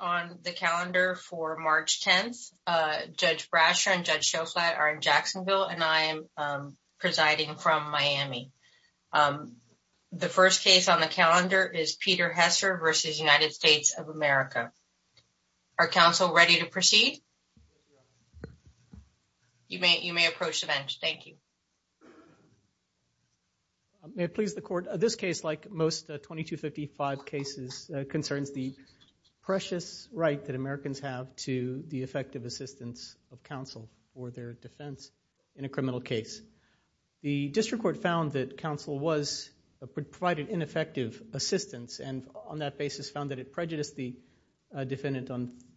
on the calendar for March 10th. Judge Brasher and Judge Schoflat are in Jacksonville, and I am presiding from Miami. The first case on the calendar is Peter Hesser v. United States of America. Are counsel ready to proceed? You may approach the bench. Thank you. May it please the court, this case, like most 2255 cases, concerns the precious right that Americans have to the effective assistance of counsel for their defense in a criminal case. The district court found that counsel provided ineffective assistance, and on that basis found that it prejudiced the defendant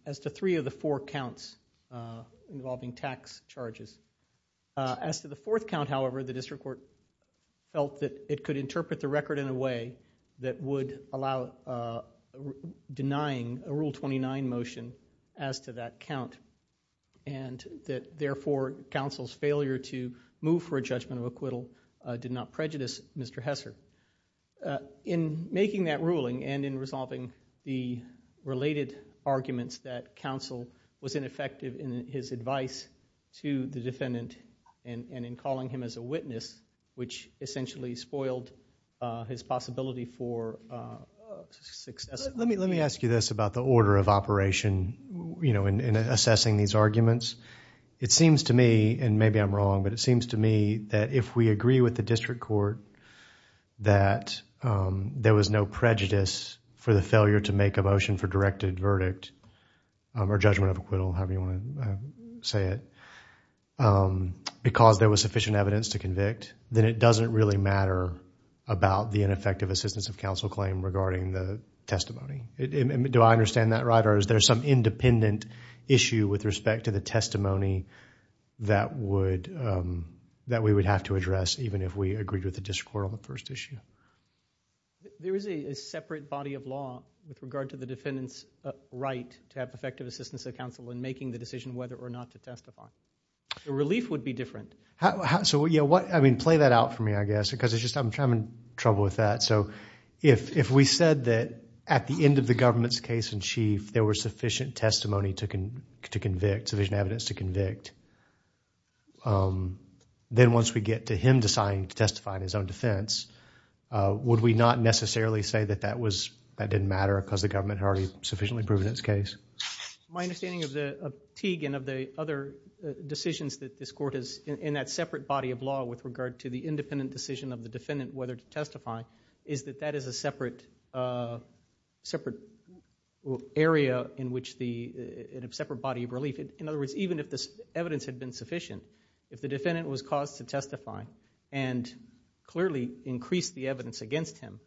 as to three of the four counts involving tax charges. As to the fourth count, however, the district court felt that it could interpret the record in a way that would allow denying a Rule 29 motion as to that count, and that therefore counsel's failure to move for a judgment of acquittal did not prejudice Mr. Hesser. In making that ruling, and in resolving the related arguments that counsel was ineffective in his advice to the defendant, and in calling him as a witness, which essentially spoiled his possibility for success. Let me ask you this about the order of operation, you know, in assessing these arguments. It seems to me, and maybe I'm wrong, but it seems to me that if we agree with the district court, that there was no prejudice for the failure to make a motion for directed verdict, or judgment of acquittal, however you want to say it, because there was sufficient evidence to convict, then it doesn't really matter about the ineffective assistance of counsel claim regarding the testimony. Do I understand that right, or is there some independent issue with respect to the testimony that we would have to address even if we agreed with the district court on the first issue? There is a separate body of law with regard to the defendant's right to have effective assistance of counsel in making the decision whether or not to testify. The relief would be different. So, yeah, what, I mean, play that out for me, I guess, because I'm having trouble with that. So, if we said that at the end of the government's case in chief, there was sufficient testimony to convict, then once we get to him deciding to testify in his own defense, would we not necessarily say that that was, that didn't matter because the government had already sufficiently proven its case? My understanding of Teague and of the other decisions that this court has in that separate body of law with regard to the independent decision of the defendant whether to testify, is that that is a separate, separate area in which the, in a separate body of relief. In other words, even if this evidence had been sufficient, if the defendant was caused to testify and clearly increased the evidence against him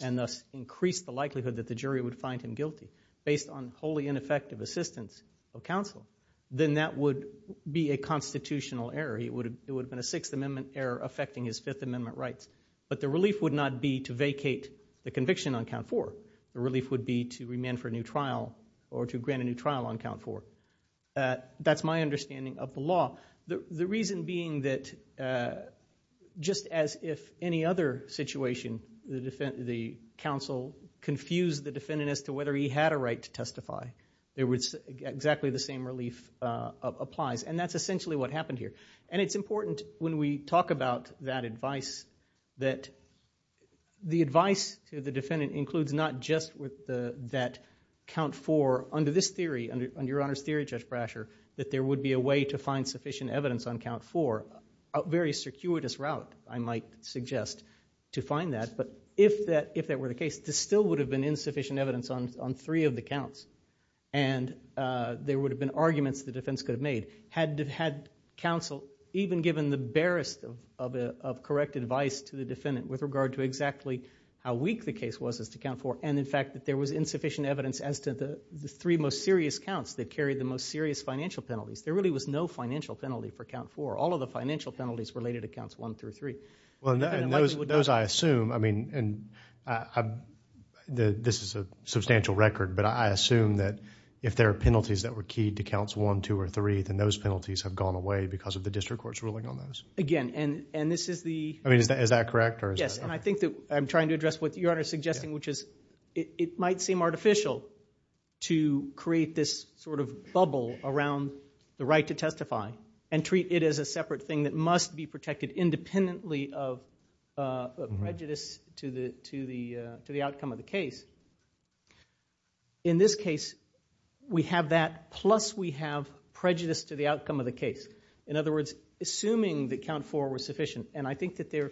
and thus increased the likelihood that the jury would find him guilty based on wholly ineffective assistance of counsel, then that would be a constitutional error. It would have been a Sixth Amendment error affecting his Fifth Amendment rights. But the relief would not be to vacate the conviction on count four. The relief would be to demand for a new trial or to grant a new trial on count four. That's my understanding of the law. The reason being that just as if any other situation, the counsel confused the defendant as to whether he had a right to testify, exactly the same relief applies. And that's essentially what happened here. And it's important when we talk about that advice that the advice to the counsel is that count four, under this theory, under Your Honor's theory, Judge Brasher, that there would be a way to find sufficient evidence on count four, a very circuitous route, I might suggest, to find that. But if that were the case, this still would have been insufficient evidence on three of the counts. And there would have been arguments the defense could have made. Had counsel even given the barest of correct advice to the defendant with regard to exactly how weak the case was as to count four, and in fact that there was insufficient evidence as to the three most serious counts that carried the most serious financial penalties. There really was no financial penalty for count four. All of the financial penalties were related to counts one through three. Those I assume, I mean, and this is a substantial record, but I assume that if there are penalties that were keyed to counts one, two, or three, then those penalties have gone away because of the district court's ruling on those. Again, and this is the... I mean, is that correct? Yes, and I think that I'm trying to address what it might seem artificial to create this sort of bubble around the right to testify and treat it as a separate thing that must be protected independently of prejudice to the outcome of the case. In this case, we have that plus we have prejudice to the outcome of the case. In other words, assuming that count four was sufficient, and I think that there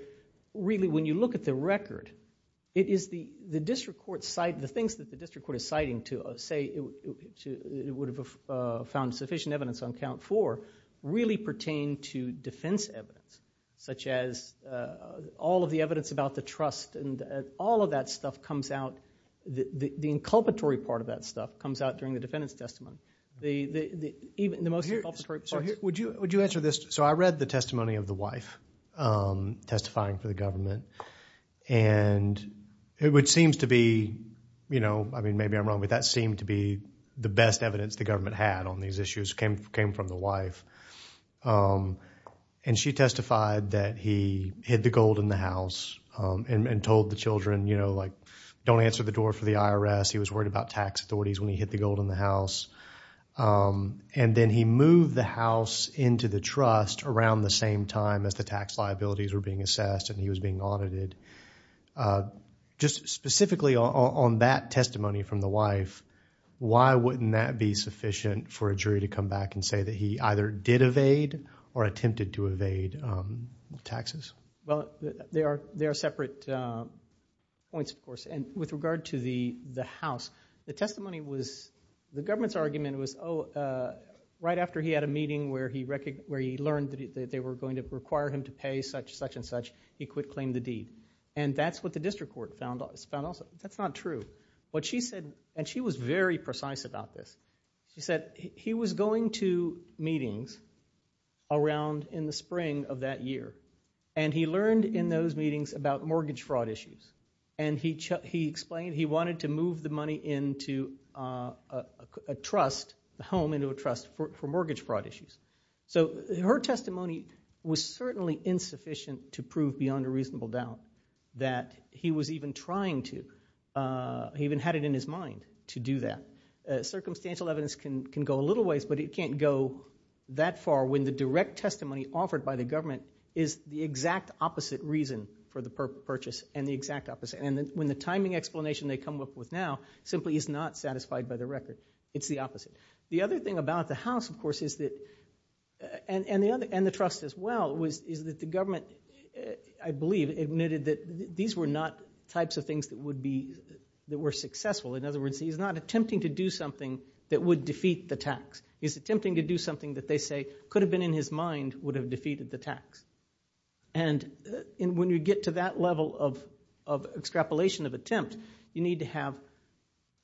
really, when you look at the record, the things that the district court is citing to say it would have found sufficient evidence on count four really pertain to defense evidence, such as all of the evidence about the trust and all of that stuff comes out, the inculpatory part of that stuff comes out during the defendant's testimony. The most inculpatory... Would you answer this? So I read the testimony of the wife testifying for the government, and it would seem to be, you know, I mean, maybe I'm wrong, but that seemed to be the best evidence the government had on these issues came from the wife. And she testified that he hid the gold in the house and told the children, you know, like, don't answer the door for the IRS. He was worried about tax authorities when he hid the gold in the tax liabilities were being assessed and he was being audited. Just specifically on that testimony from the wife, why wouldn't that be sufficient for a jury to come back and say that he either did evade or attempted to evade taxes? Well, there are separate points, of course, and with regard to the house, the testimony was... The government's argument was, oh, right after he had a meeting where he learned that they were going to require him to pay such and such, he could claim the deed. And that's what the district court found also. That's not true. What she said, and she was very precise about this, she said he was going to meetings around in the spring of that year, and he learned in those meetings about mortgage fraud issues. And he explained he wanted to move the money into a trust, the home into a trust for mortgage fraud issues. So her testimony was certainly insufficient to prove beyond a reasonable doubt that he was even trying to. He even had it in his mind to do that. Circumstantial evidence can go a little ways, but it can't go that far when the direct testimony offered by the government is the exact opposite reason for the purchase and when the timing explanation they come up with now simply is not satisfied by the record. It's the opposite. The other thing about the house, of course, is that... And the trust as well, is that the government, I believe, admitted that these were not types of things that were successful. In other words, he's not attempting to do something that would defeat the tax. He's attempting to do something that they say could have been in his mind would have defeated the tax. And when you get to that level of extrapolation of attempt, you need to have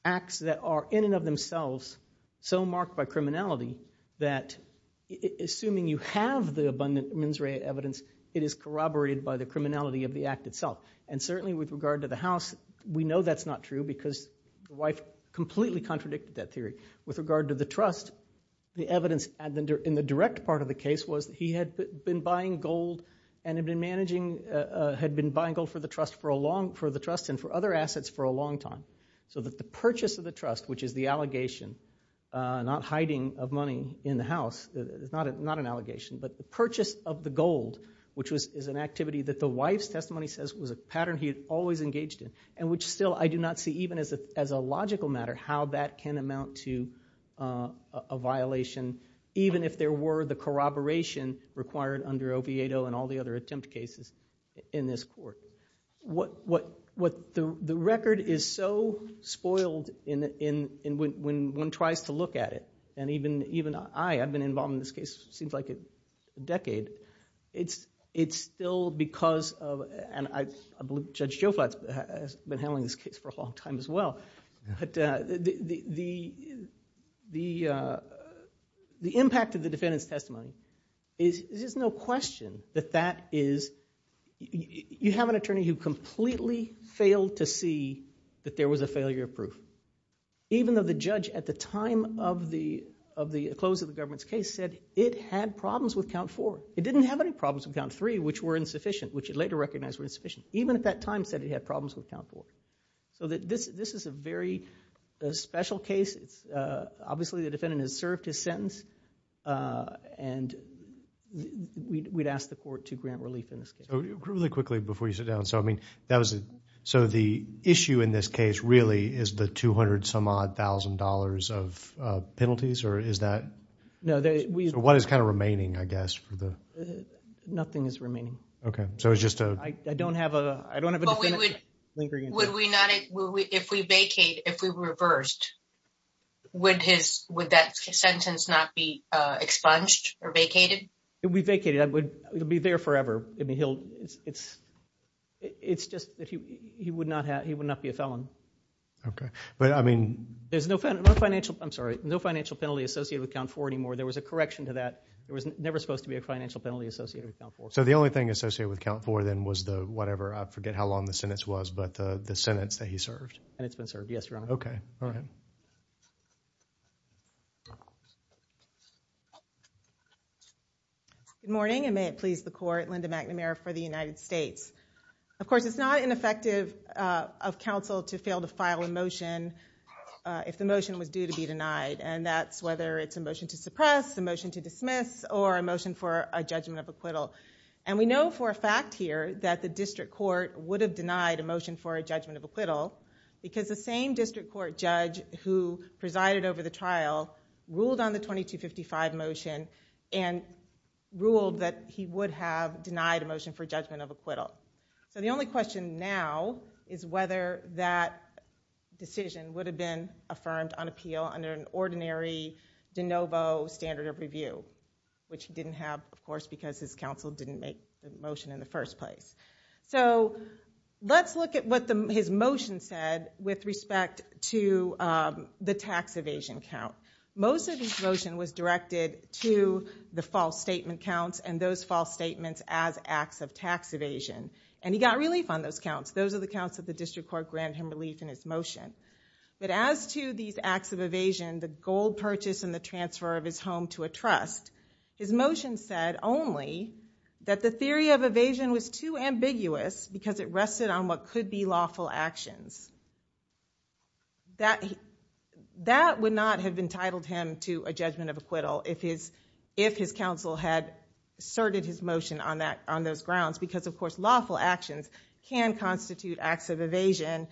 acts that are in and of themselves so marked by criminality that assuming you have the abundant mens rea evidence, it is corroborated by the criminality of the act itself. And certainly with regard to the house, we know that's not true because the wife completely contradicted that theory. With regard to the trust, the evidence in the direct part of the case was he had been buying gold and had been managing... Had been buying gold for the trust for a long... For the trust and for other assets for a long time. So that the purchase of the trust, which is the allegation, not hiding of money in the house, it's not an allegation, but the purchase of the gold, which is an activity that the wife's testimony says was a pattern he had always engaged in and which still I do not see even as a logical matter how that can amount to a violation, even if there were the corroboration required under Oviedo and all the other attempt cases in this court. The record is so spoiled when one tries to look at it. And even I, I've been involved in this case, seems like a decade. It's still because and I believe Judge Joe Flats has been handling this case for a long time as well. But the impact of the defendant's testimony is there's no question that that is... You have an attorney who completely failed to see that there was a failure of proof, even though the judge at the time of the close of the government's case said it had problems with count four. It didn't have any problems with count three, which were insufficient, which he later recognized were insufficient. Even at that time said he had problems with count four. So that this, this is a very special case. It's obviously the defendant has served his sentence and we'd ask the court to grant relief in this case. So really quickly before you sit down. So I mean, that was it. So the issue in this case really is the 200 some odd thousand dollars of penalties or is that... No, we... What is kind of remaining, I guess, for the... Nothing is remaining. Okay. So it was just a... I don't have a, I don't have a... Would we not, if we vacate, if we reversed, would his, would that sentence not be expunged or vacated? If we vacated, it would be there forever. I mean, he'll, it's, it's just that he, he would not have, he would not be a felon. Okay. But I mean... There's no financial, I'm sorry, no financial penalty associated with count four anymore. There was a correction to that. There was never supposed to be a financial penalty associated with count four. So the only thing associated with count four then was the, whatever, I forget how long the sentence was, but the sentence that he served. And it's been served, yes, Your Honor. Okay. All right. Good morning, and may it please the court, Linda McNamara for the United States. Of course, it's not ineffective of counsel to fail to file a motion if the motion was due to be denied. Or a motion for a judgment of acquittal. And we know for a fact here that the district court would have denied a motion for a judgment of acquittal because the same district court judge who presided over the trial ruled on the 2255 motion and ruled that he would have denied a motion for judgment of acquittal. So the only question now is whether that decision would have been affirmed on appeal under an ordinary de novo standard of review. Which he didn't have, of course, because his counsel didn't make the motion in the first place. So let's look at what his motion said with respect to the tax evasion count. Most of his motion was directed to the false statement counts and those false statements as acts of tax evasion. And he got relief on those counts. Those are the counts that the district court granted him relief in his motion. But as to these acts of evasion, the gold purchase and the transfer of his home to a trust, his motion said only that the theory of evasion was too ambiguous because it rested on what could be lawful actions. That would not have entitled him to a judgment of acquittal if his counsel had asserted his motion on those grounds. Because, of course, lawful actions can constitute acts of evasion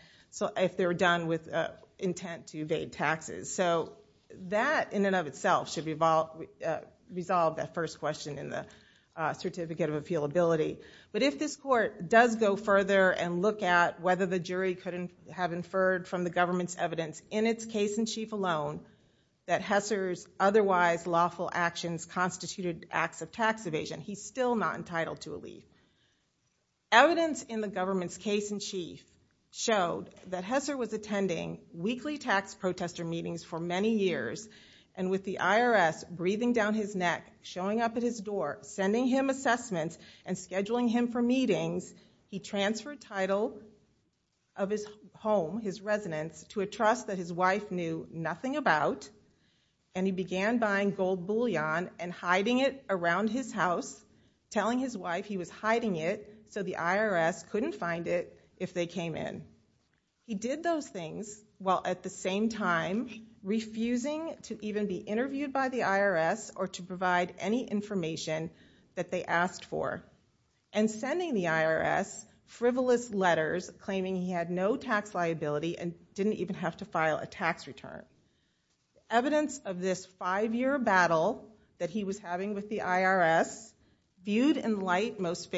if they're done with intent to evade taxes. So that, in and of itself, should resolve that first question in the certificate of appealability. But if this court does go further and look at whether the jury could have inferred from the government's evidence in its case-in-chief alone that Hesser's otherwise lawful actions constituted acts of tax evasion, he's still not entitled to a leave. Evidence in the government's case-in-chief showed that Hesser was attending weekly tax protester meetings for many years. And with the IRS breathing down his neck, showing up at his door, sending him assessments, and scheduling him for meetings, he transferred title of his home, his residence, to a trust that his wife knew nothing about. And he began buying gold bullion and hiding it around his house, telling his wife he was hiding it so the IRS couldn't find it if they came in. He did those things while, at the same time, refusing to even be interviewed by the IRS or to provide any information that they asked for, and sending the IRS frivolous letters claiming he had no tax liability and didn't even have to file a tax return. Evidence of this five-year battle that he was having with the IRS viewed in light most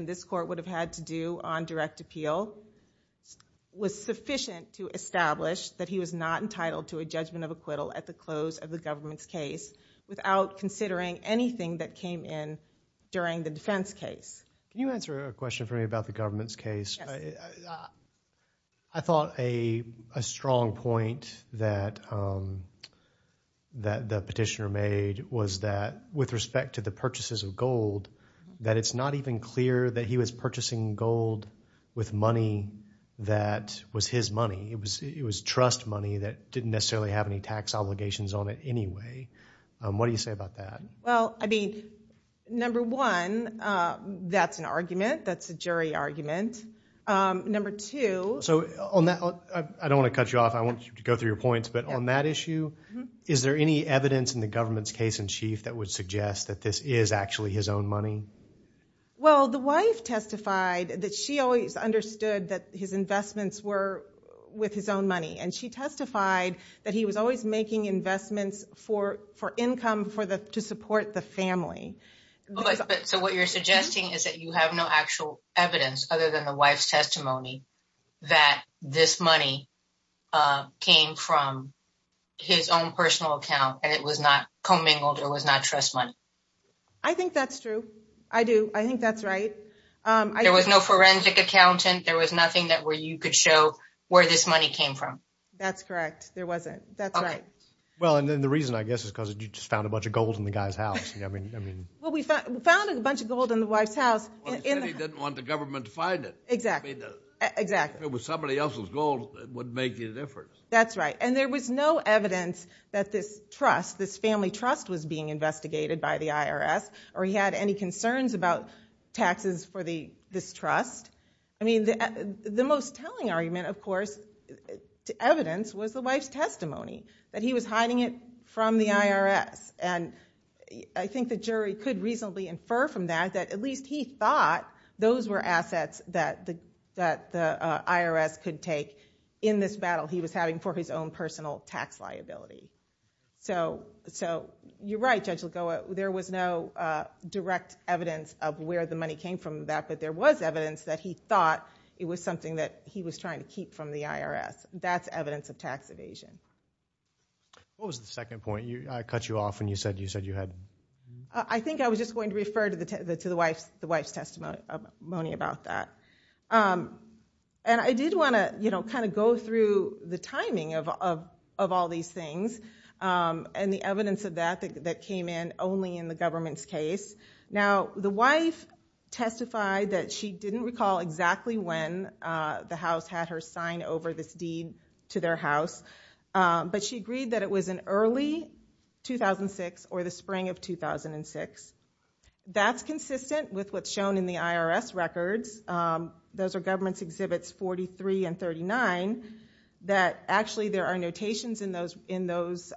this court would have had to do on direct appeal was sufficient to establish that he was not entitled to a judgment of acquittal at the close of the government's case without considering anything that came in during the defense case. Can you answer a question for me about the government's case? I thought a strong point that the petitioner made was that with respect to the purchases of gold, that it's not even clear that he was purchasing gold with money that was his money. It was trust money that didn't necessarily have any tax obligations on it anyway. What do you say about that? Well, I mean, number one, that's an argument. That's a jury argument. Number two... So on that, I don't want to cut you off. I want you to go through your points. But on that issue, is there any evidence in the government's case in chief that would his own money? Well, the wife testified that she always understood that his investments were with his own money. And she testified that he was always making investments for income to support the family. So what you're suggesting is that you have no actual evidence other than the wife's testimony that this money came from his own personal account and it was not commingled or was not trust money? I think that's true. I do. I think that's right. There was no forensic accountant. There was nothing that where you could show where this money came from. That's correct. There wasn't. That's right. Well, and then the reason, I guess, is because you just found a bunch of gold in the guy's house. I mean... Well, we found a bunch of gold in the wife's house. Well, he said he didn't want the government to find it. Exactly. I mean, if it was somebody else's gold, it wouldn't make any difference. That's right. And there was no evidence that this trust, this family trust, was being investigated by the IRS or he had any concerns about taxes for this trust. I mean, the most telling argument, of course, to evidence was the wife's testimony, that he was hiding it from the IRS. And I think the jury could reasonably infer from that, that at least he thought those were assets that the IRS could take in this battle he was having for his own personal tax liability. So you're right, Judge Lagoa. There was no direct evidence of where the money came from that, but there was evidence that he thought it was something that he was trying to keep from the IRS. That's evidence of tax evasion. What was the second point? I cut you off when you said you had... I think I was just going to refer to the wife's testimony about that. And I did want to kind of go through the timing of all these things and the evidence of that that came in only in the government's case. Now, the wife testified that she didn't recall exactly when the house had her sign over this deed to their house, but she agreed that it was in early 2006 or the spring of 2006. That's consistent with what's shown in the IRS records. Those are government's exhibits 43 and 39, that actually there are notations in those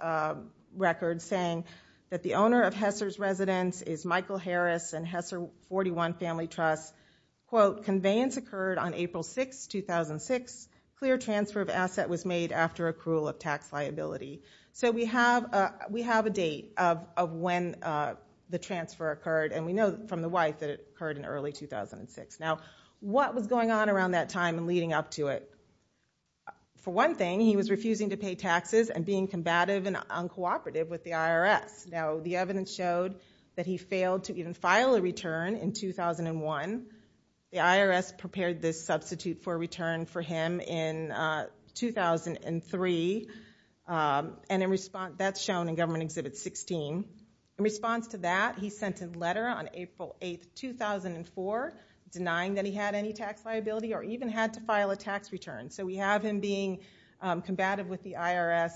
records saying that the owner of Hesser's residence is Michael Harris and Hesser 41 Family Trust. Quote, conveyance occurred on April 6, 2006. Clear transfer of asset was made after accrual of tax liability. So we have a date of when the transfer occurred. And we know from the wife that it occurred in early 2006. Now, what was going on around that time and leading up to it? For one thing, he was refusing to pay taxes and being combative and uncooperative with the IRS. Now, the evidence showed that he failed to even file a return in 2001. The IRS prepared this substitute for return for him in 2003. And in response, that's shown in government exhibit 16. In response to that, he sent a letter on April 8, 2004, denying that he had any tax liability or even had to file a tax return. So we have him being combative with the IRS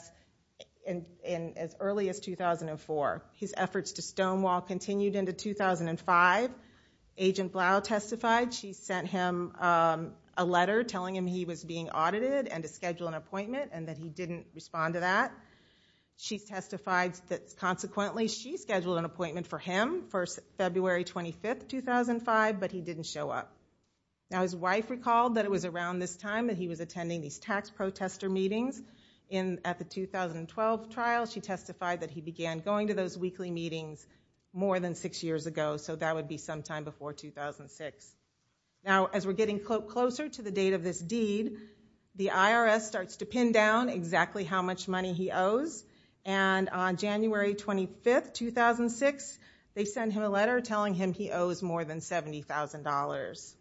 in as early as 2004. His efforts to stonewall continued into 2005. Agent Blau testified. She sent him a letter telling him he was being audited and to schedule an appointment and that he didn't respond to that. She testified that consequently, she scheduled an appointment for him for February 25, 2005, but he didn't show up. Now, his wife recalled that it was around this time that he was attending these tax protester meetings at the 2012 trial. She testified that he began going to those weekly meetings more than six years ago. So that would be sometime before 2006. Now, as we're getting closer to the date of this deed, the IRS starts to pin down exactly how much money he owes. And on January 25, 2006, they send him a letter telling him he owes more than $70,000.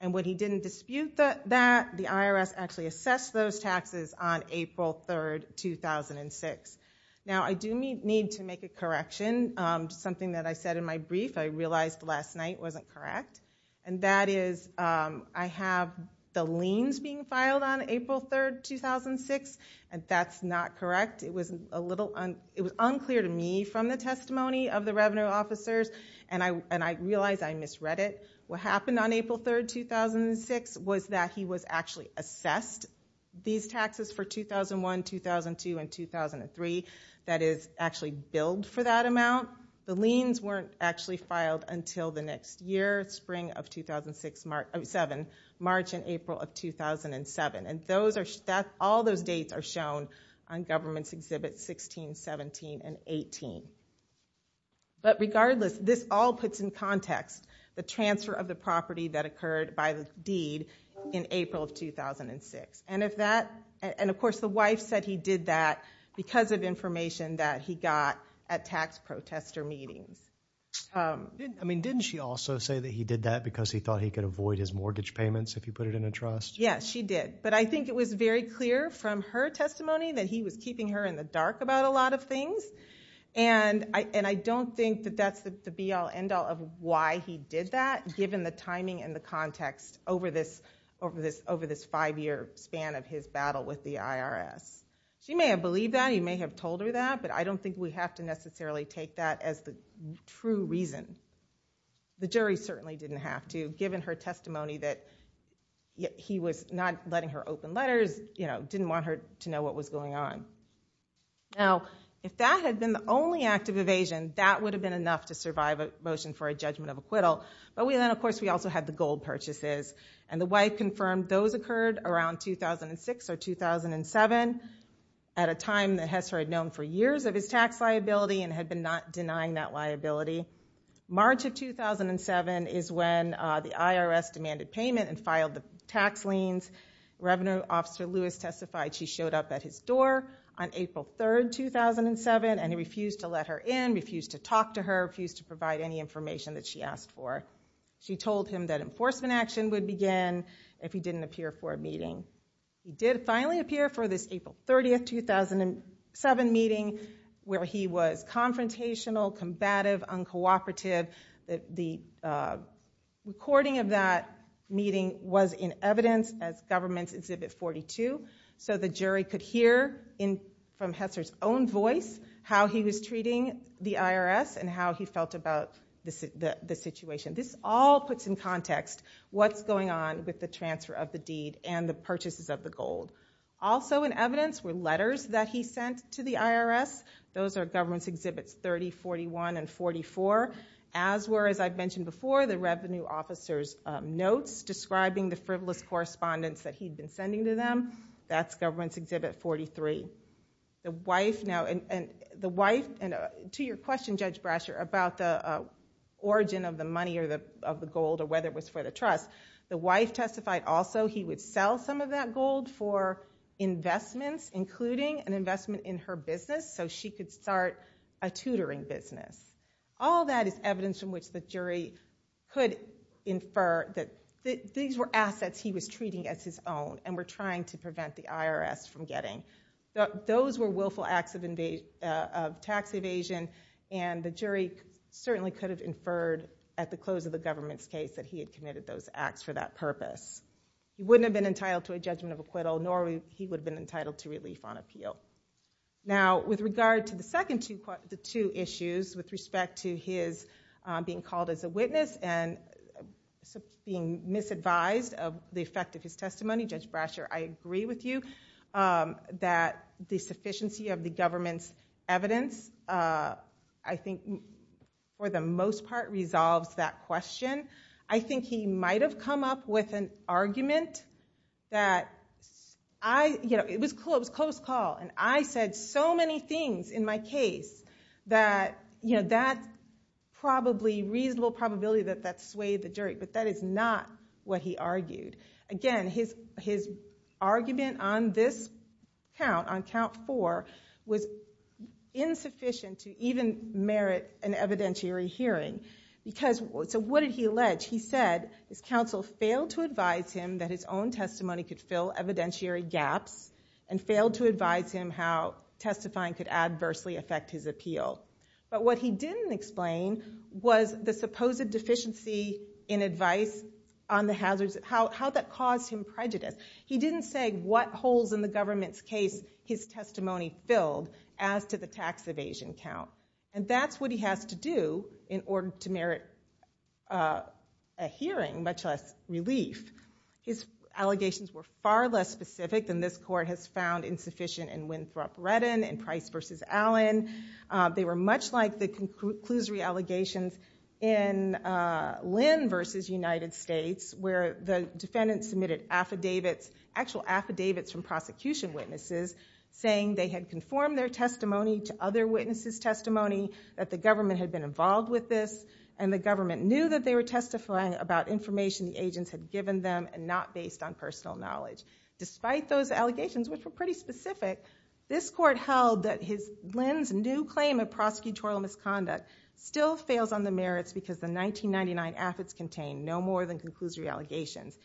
And when he didn't dispute that, the IRS actually assessed those taxes on April 3, 2006. Now, I do need to make a correction, something that I said in my brief I realized last night wasn't correct. And that is I have the liens being filed on April 3, 2006, and that's not correct. It was unclear to me from the testimony of the revenue officers, and I realize I misread it. What happened on April 3, 2006 was that he was actually assessed these taxes for 2001, 2002, and 2003. That is actually billed for that amount. The liens weren't actually filed until the next year, spring of 2007, March and April of 2007. And all those dates are shown on government's exhibit 16, 17, and 18. But regardless, this all puts in context the transfer of the property that occurred by the deed in April of 2006. And of course, the wife said he did that because of information that he got at tax protester meetings. I mean, didn't she also say that he did that because he thought he could avoid his mortgage payments if he put it in a trust? Yes, she did. But I think it was very clear from her testimony that he was keeping her in the dark about a lot of things. And I don't think that that's the be-all, end-all of why he did that, given the timing and the context over this five-year span of his battle with the IRS. She may have believed that. He may have told her that. But I don't think we have to necessarily take that as the true reason. The jury certainly didn't have to, given her testimony that he was not letting her open letters, didn't want her to know what was going on. Now, if that had been the only act of evasion, that would have been enough to survive a motion for a judgment of acquittal. But then, of course, we also had the gold purchases. And the wife confirmed those occurred around 2006 or 2007, at a time that Hesser had known for years of his tax liability and had been not denying that liability. March of 2007 is when the IRS demanded payment and filed the tax liens. Revenue Officer Lewis testified she showed up at his door on April 3, 2007. And he refused to let her in, refused to talk to her, refused to provide any information that she asked for. She told him that enforcement action would begin if he didn't appear for a meeting. He did finally appear for this April 30, 2007 meeting, where he was confrontational, combative, uncooperative. The recording of that meeting was in evidence as government's Exhibit 42. So the jury could hear from Hesser's own voice how he was treating the IRS and how he felt about the situation. This all puts in context what's going on with the transfer of the deed and the purchases of the gold. Also in evidence were letters that he sent to the IRS. Those are government's Exhibits 30, 41, and 44. As were, as I've mentioned before, the Revenue Officer's notes describing the frivolous correspondence that he'd been sending to them. That's government's Exhibit 43. The wife, and to your question, Judge Brasher, about the origin of the money or the gold or whether it was for the trust, the wife testified also he would sell some of that gold for investments, including an investment in her business so she could start a tutoring business. All that is evidence from which the jury could infer that these were assets he was treating as his own and were trying to prevent the IRS from getting. Those were willful acts of tax evasion and the jury certainly could have inferred at the close of the government's case that he had committed those acts for that purpose. He wouldn't have been entitled to a judgment of acquittal, nor he would have been entitled to relief on appeal. Now, with regard to the second two issues with respect to his being called as a witness and being misadvised of the effect of his testimony, Judge Brasher, I agree with you. That the sufficiency of the government's evidence, I think, for the most part, resolves that question. I think he might have come up with an argument that it was close call and I said so many things in my case that that probably reasonable probability that that swayed the jury, but that is not what he argued. Again, his argument on this count, on count four, was insufficient to even merit an evidentiary hearing. So what did he allege? He said his counsel failed to advise him that his own testimony could fill evidentiary gaps and failed to advise him how testifying could adversely affect his appeal. But what he didn't explain was the supposed deficiency in advice on the hazards, how that caused him prejudice. He didn't say what holes in the government's case his testimony filled as to the tax evasion count. And that's what he has to do in order to merit a hearing, much less relief. His allegations were far less specific than this court has found insufficient in Winthrop Redden and Price versus Allen. They were much like the conclusory allegations in Lynn versus United States, where the defendant submitted affidavits, actual affidavits from prosecution witnesses saying they had conformed their testimony to other witnesses' testimony, that the government had been involved with this, and the government knew that they were testifying about information the agents had given them and not based on personal knowledge. Despite those allegations, which were pretty specific, this court held that Lynn's new claim of prosecutorial misconduct still fails on the merits because the 1999 affidavits contain no more than conclusory allegations.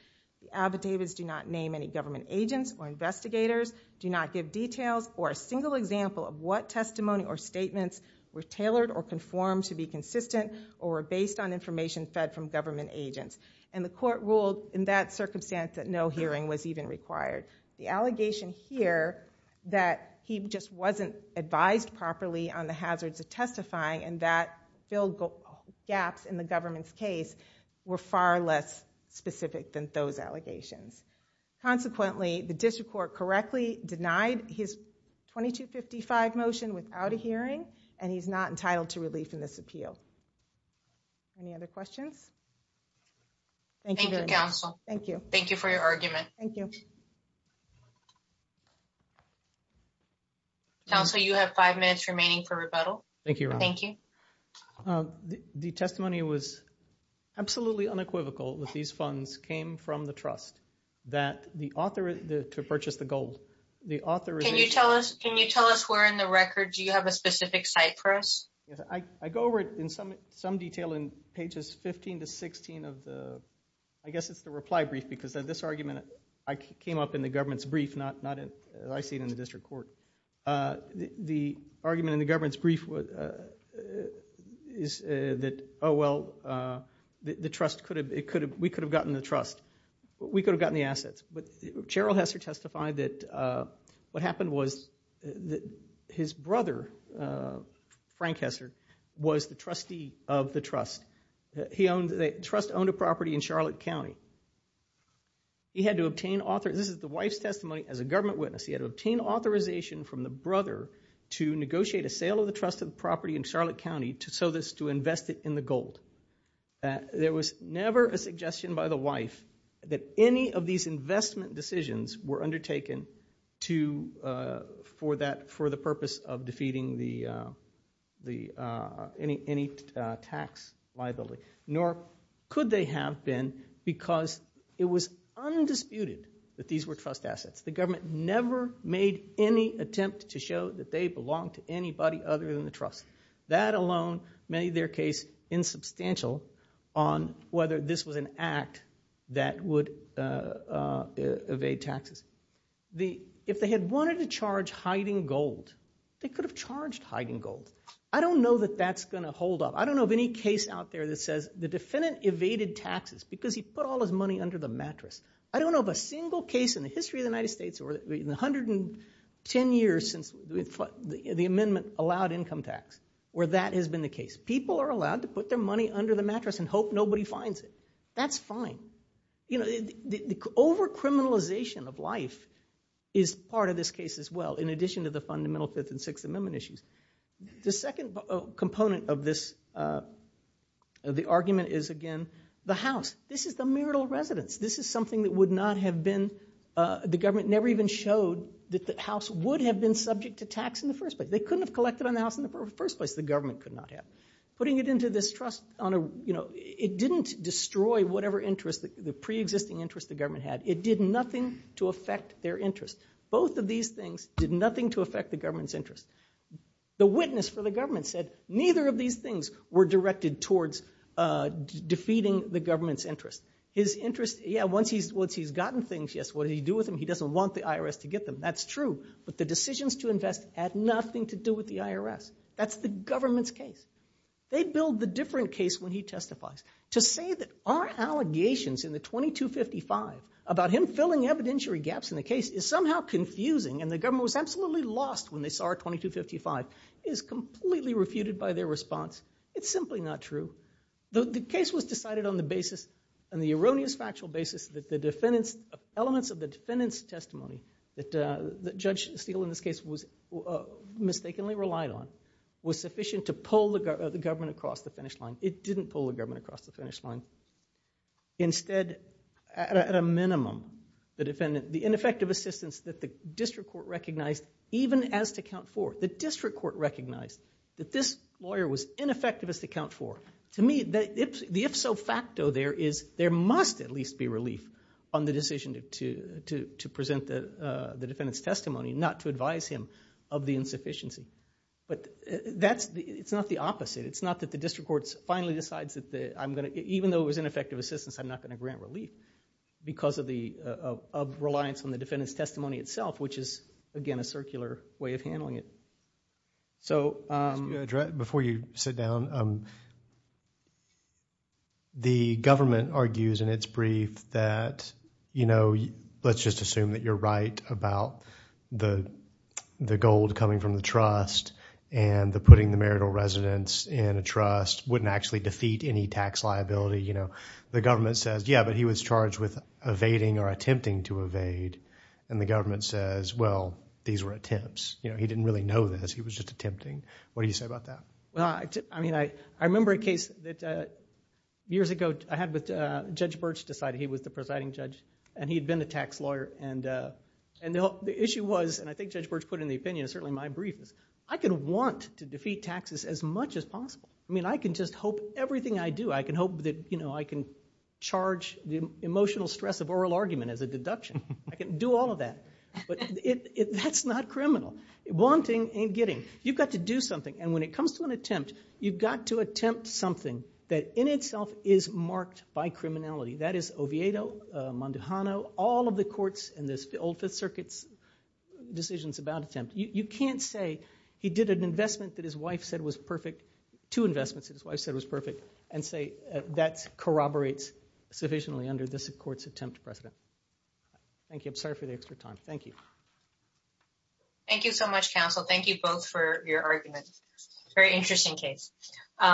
The affidavits do not name any government agents or investigators, do not give details or a single example of what testimony or statements were tailored or conformed to be consistent or based on information fed from government agents. The court ruled in that circumstance that no hearing was even required. The allegation here that he just wasn't advised properly on the hazards of testifying and that filled gaps in the government's case were far less specific than those allegations. Consequently, the district court correctly denied his 2255 motion without a hearing, and he's not entitled to relief in this appeal. Any other questions? Thank you, counsel. Thank you. Thank you for your argument. Thank you. Counsel, you have five minutes remaining for rebuttal. Thank you. Thank you. The testimony was absolutely unequivocal that these funds came from the trust that the author to purchase the gold, the author. Can you tell us, can you tell us where in the record do you have a specific site for us? I go over it in some detail in pages 15 to 16 of the, I guess it's the reply brief because this argument came up in the government's brief, not as I see it in the district court. The argument in the government's brief is that, oh, well, the trust could have, it could have, we could have gotten the trust. We could have gotten the assets. Cheryl Hester testified that what happened was that his brother, Frank Hester, was the trustee of the trust. He owned, the trust owned a property in Charlotte County. He had to obtain, this is the wife's testimony as a government witness, he had to obtain authorization from the brother to negotiate a sale of the trust of the property in Charlotte County so as to invest it in the gold. That there was never a suggestion by the wife that any of these investment decisions were undertaken to, for that, for the purpose of defeating the, any tax liability, nor could they have been because it was undisputed that these were trust assets. The government never made any attempt to show that they belonged to anybody other than the trust. That alone made their case insubstantial on whether this was an act that would evade taxes. If they had wanted to charge hiding gold, they could have charged hiding gold. I don't know that that's going to hold up. I don't know of any case out there that says the defendant evaded taxes because he put all his money under the mattress. I don't know of a single case in the history of the United States or in 110 years since the amendment allowed income tax where that has been the case. People are allowed to put their money under the mattress and hope nobody finds it. That's fine. You know, the over-criminalization of life is part of this case as well, in addition to the fundamental Fifth and Sixth Amendment issues. The second component of this, of the argument is, again, the house. This is the marital residence. This is something that would not have been, the government never even showed that the tax in the first place. They couldn't have collected on the house in the first place. The government could not have. Putting it into this trust on a, you know, it didn't destroy whatever interest, the pre-existing interest the government had. It did nothing to affect their interest. Both of these things did nothing to affect the government's interest. The witness for the government said neither of these things were directed towards defeating the government's interest. His interest, yeah, once he's gotten things, yes, what did he do with them? He doesn't want the IRS to get them. That's true. But the decisions to invest had nothing to do with the IRS. That's the government's case. They build the different case when he testifies. To say that our allegations in the 2255 about him filling evidentiary gaps in the case is somehow confusing and the government was absolutely lost when they saw our 2255 is completely refuted by their response. It's simply not true. The case was decided on the basis, on the erroneous factual basis that the defendants, elements of the defendants testimony that Judge Steele in this case was mistakenly relied on was sufficient to pull the government across the finish line. It didn't pull the government across the finish line. Instead, at a minimum, the defendant, the ineffective assistance that the district court recognized even as to count for, the district court recognized that this lawyer was ineffective as to count for. To me, the if-so facto there is there must at least be relief on the decision to present the defendant's testimony, not to advise him of the insufficiency. It's not the opposite. It's not that the district court finally decides that even though it was ineffective assistance, I'm not going to grant relief because of the reliance on the defendant's testimony itself, which is, again, a circular way of handling it. So before you sit down, the government argues in its brief that, you know, let's just assume that you're right about the gold coming from the trust and the putting the marital residence in a trust wouldn't actually defeat any tax liability. You know, the government says, yeah, but he was charged with evading or attempting to evade. And the government says, well, these were attempts. You know, he didn't really know this. He was just attempting. What do you say about that? Well, I mean, I remember a case that years ago I had with Judge Birch decided he was the presiding judge and he had been a tax lawyer. And the issue was, and I think Judge Birch put in the opinion, certainly my brief is I could want to defeat taxes as much as possible. I mean, I can just hope everything I do, I can hope that, you know, I can charge the emotional stress of oral argument as a deduction. I can do all of that. But that's not criminal. Wanting ain't getting. You've got to do something. And when it comes to an attempt, you've got to attempt something that in itself is marked by criminality. That is Oviedo, Monduhano, all of the courts in this old Fifth Circuit's decisions about attempt. You can't say he did an investment that his wife said was perfect, two investments that his wife said was perfect, and say that corroborates sufficiently under this court's attempt precedent. Thank you. I'm sorry for the extra time. Thank you. Thank you so much, counsel. Thank you both for your arguments. Very interesting case.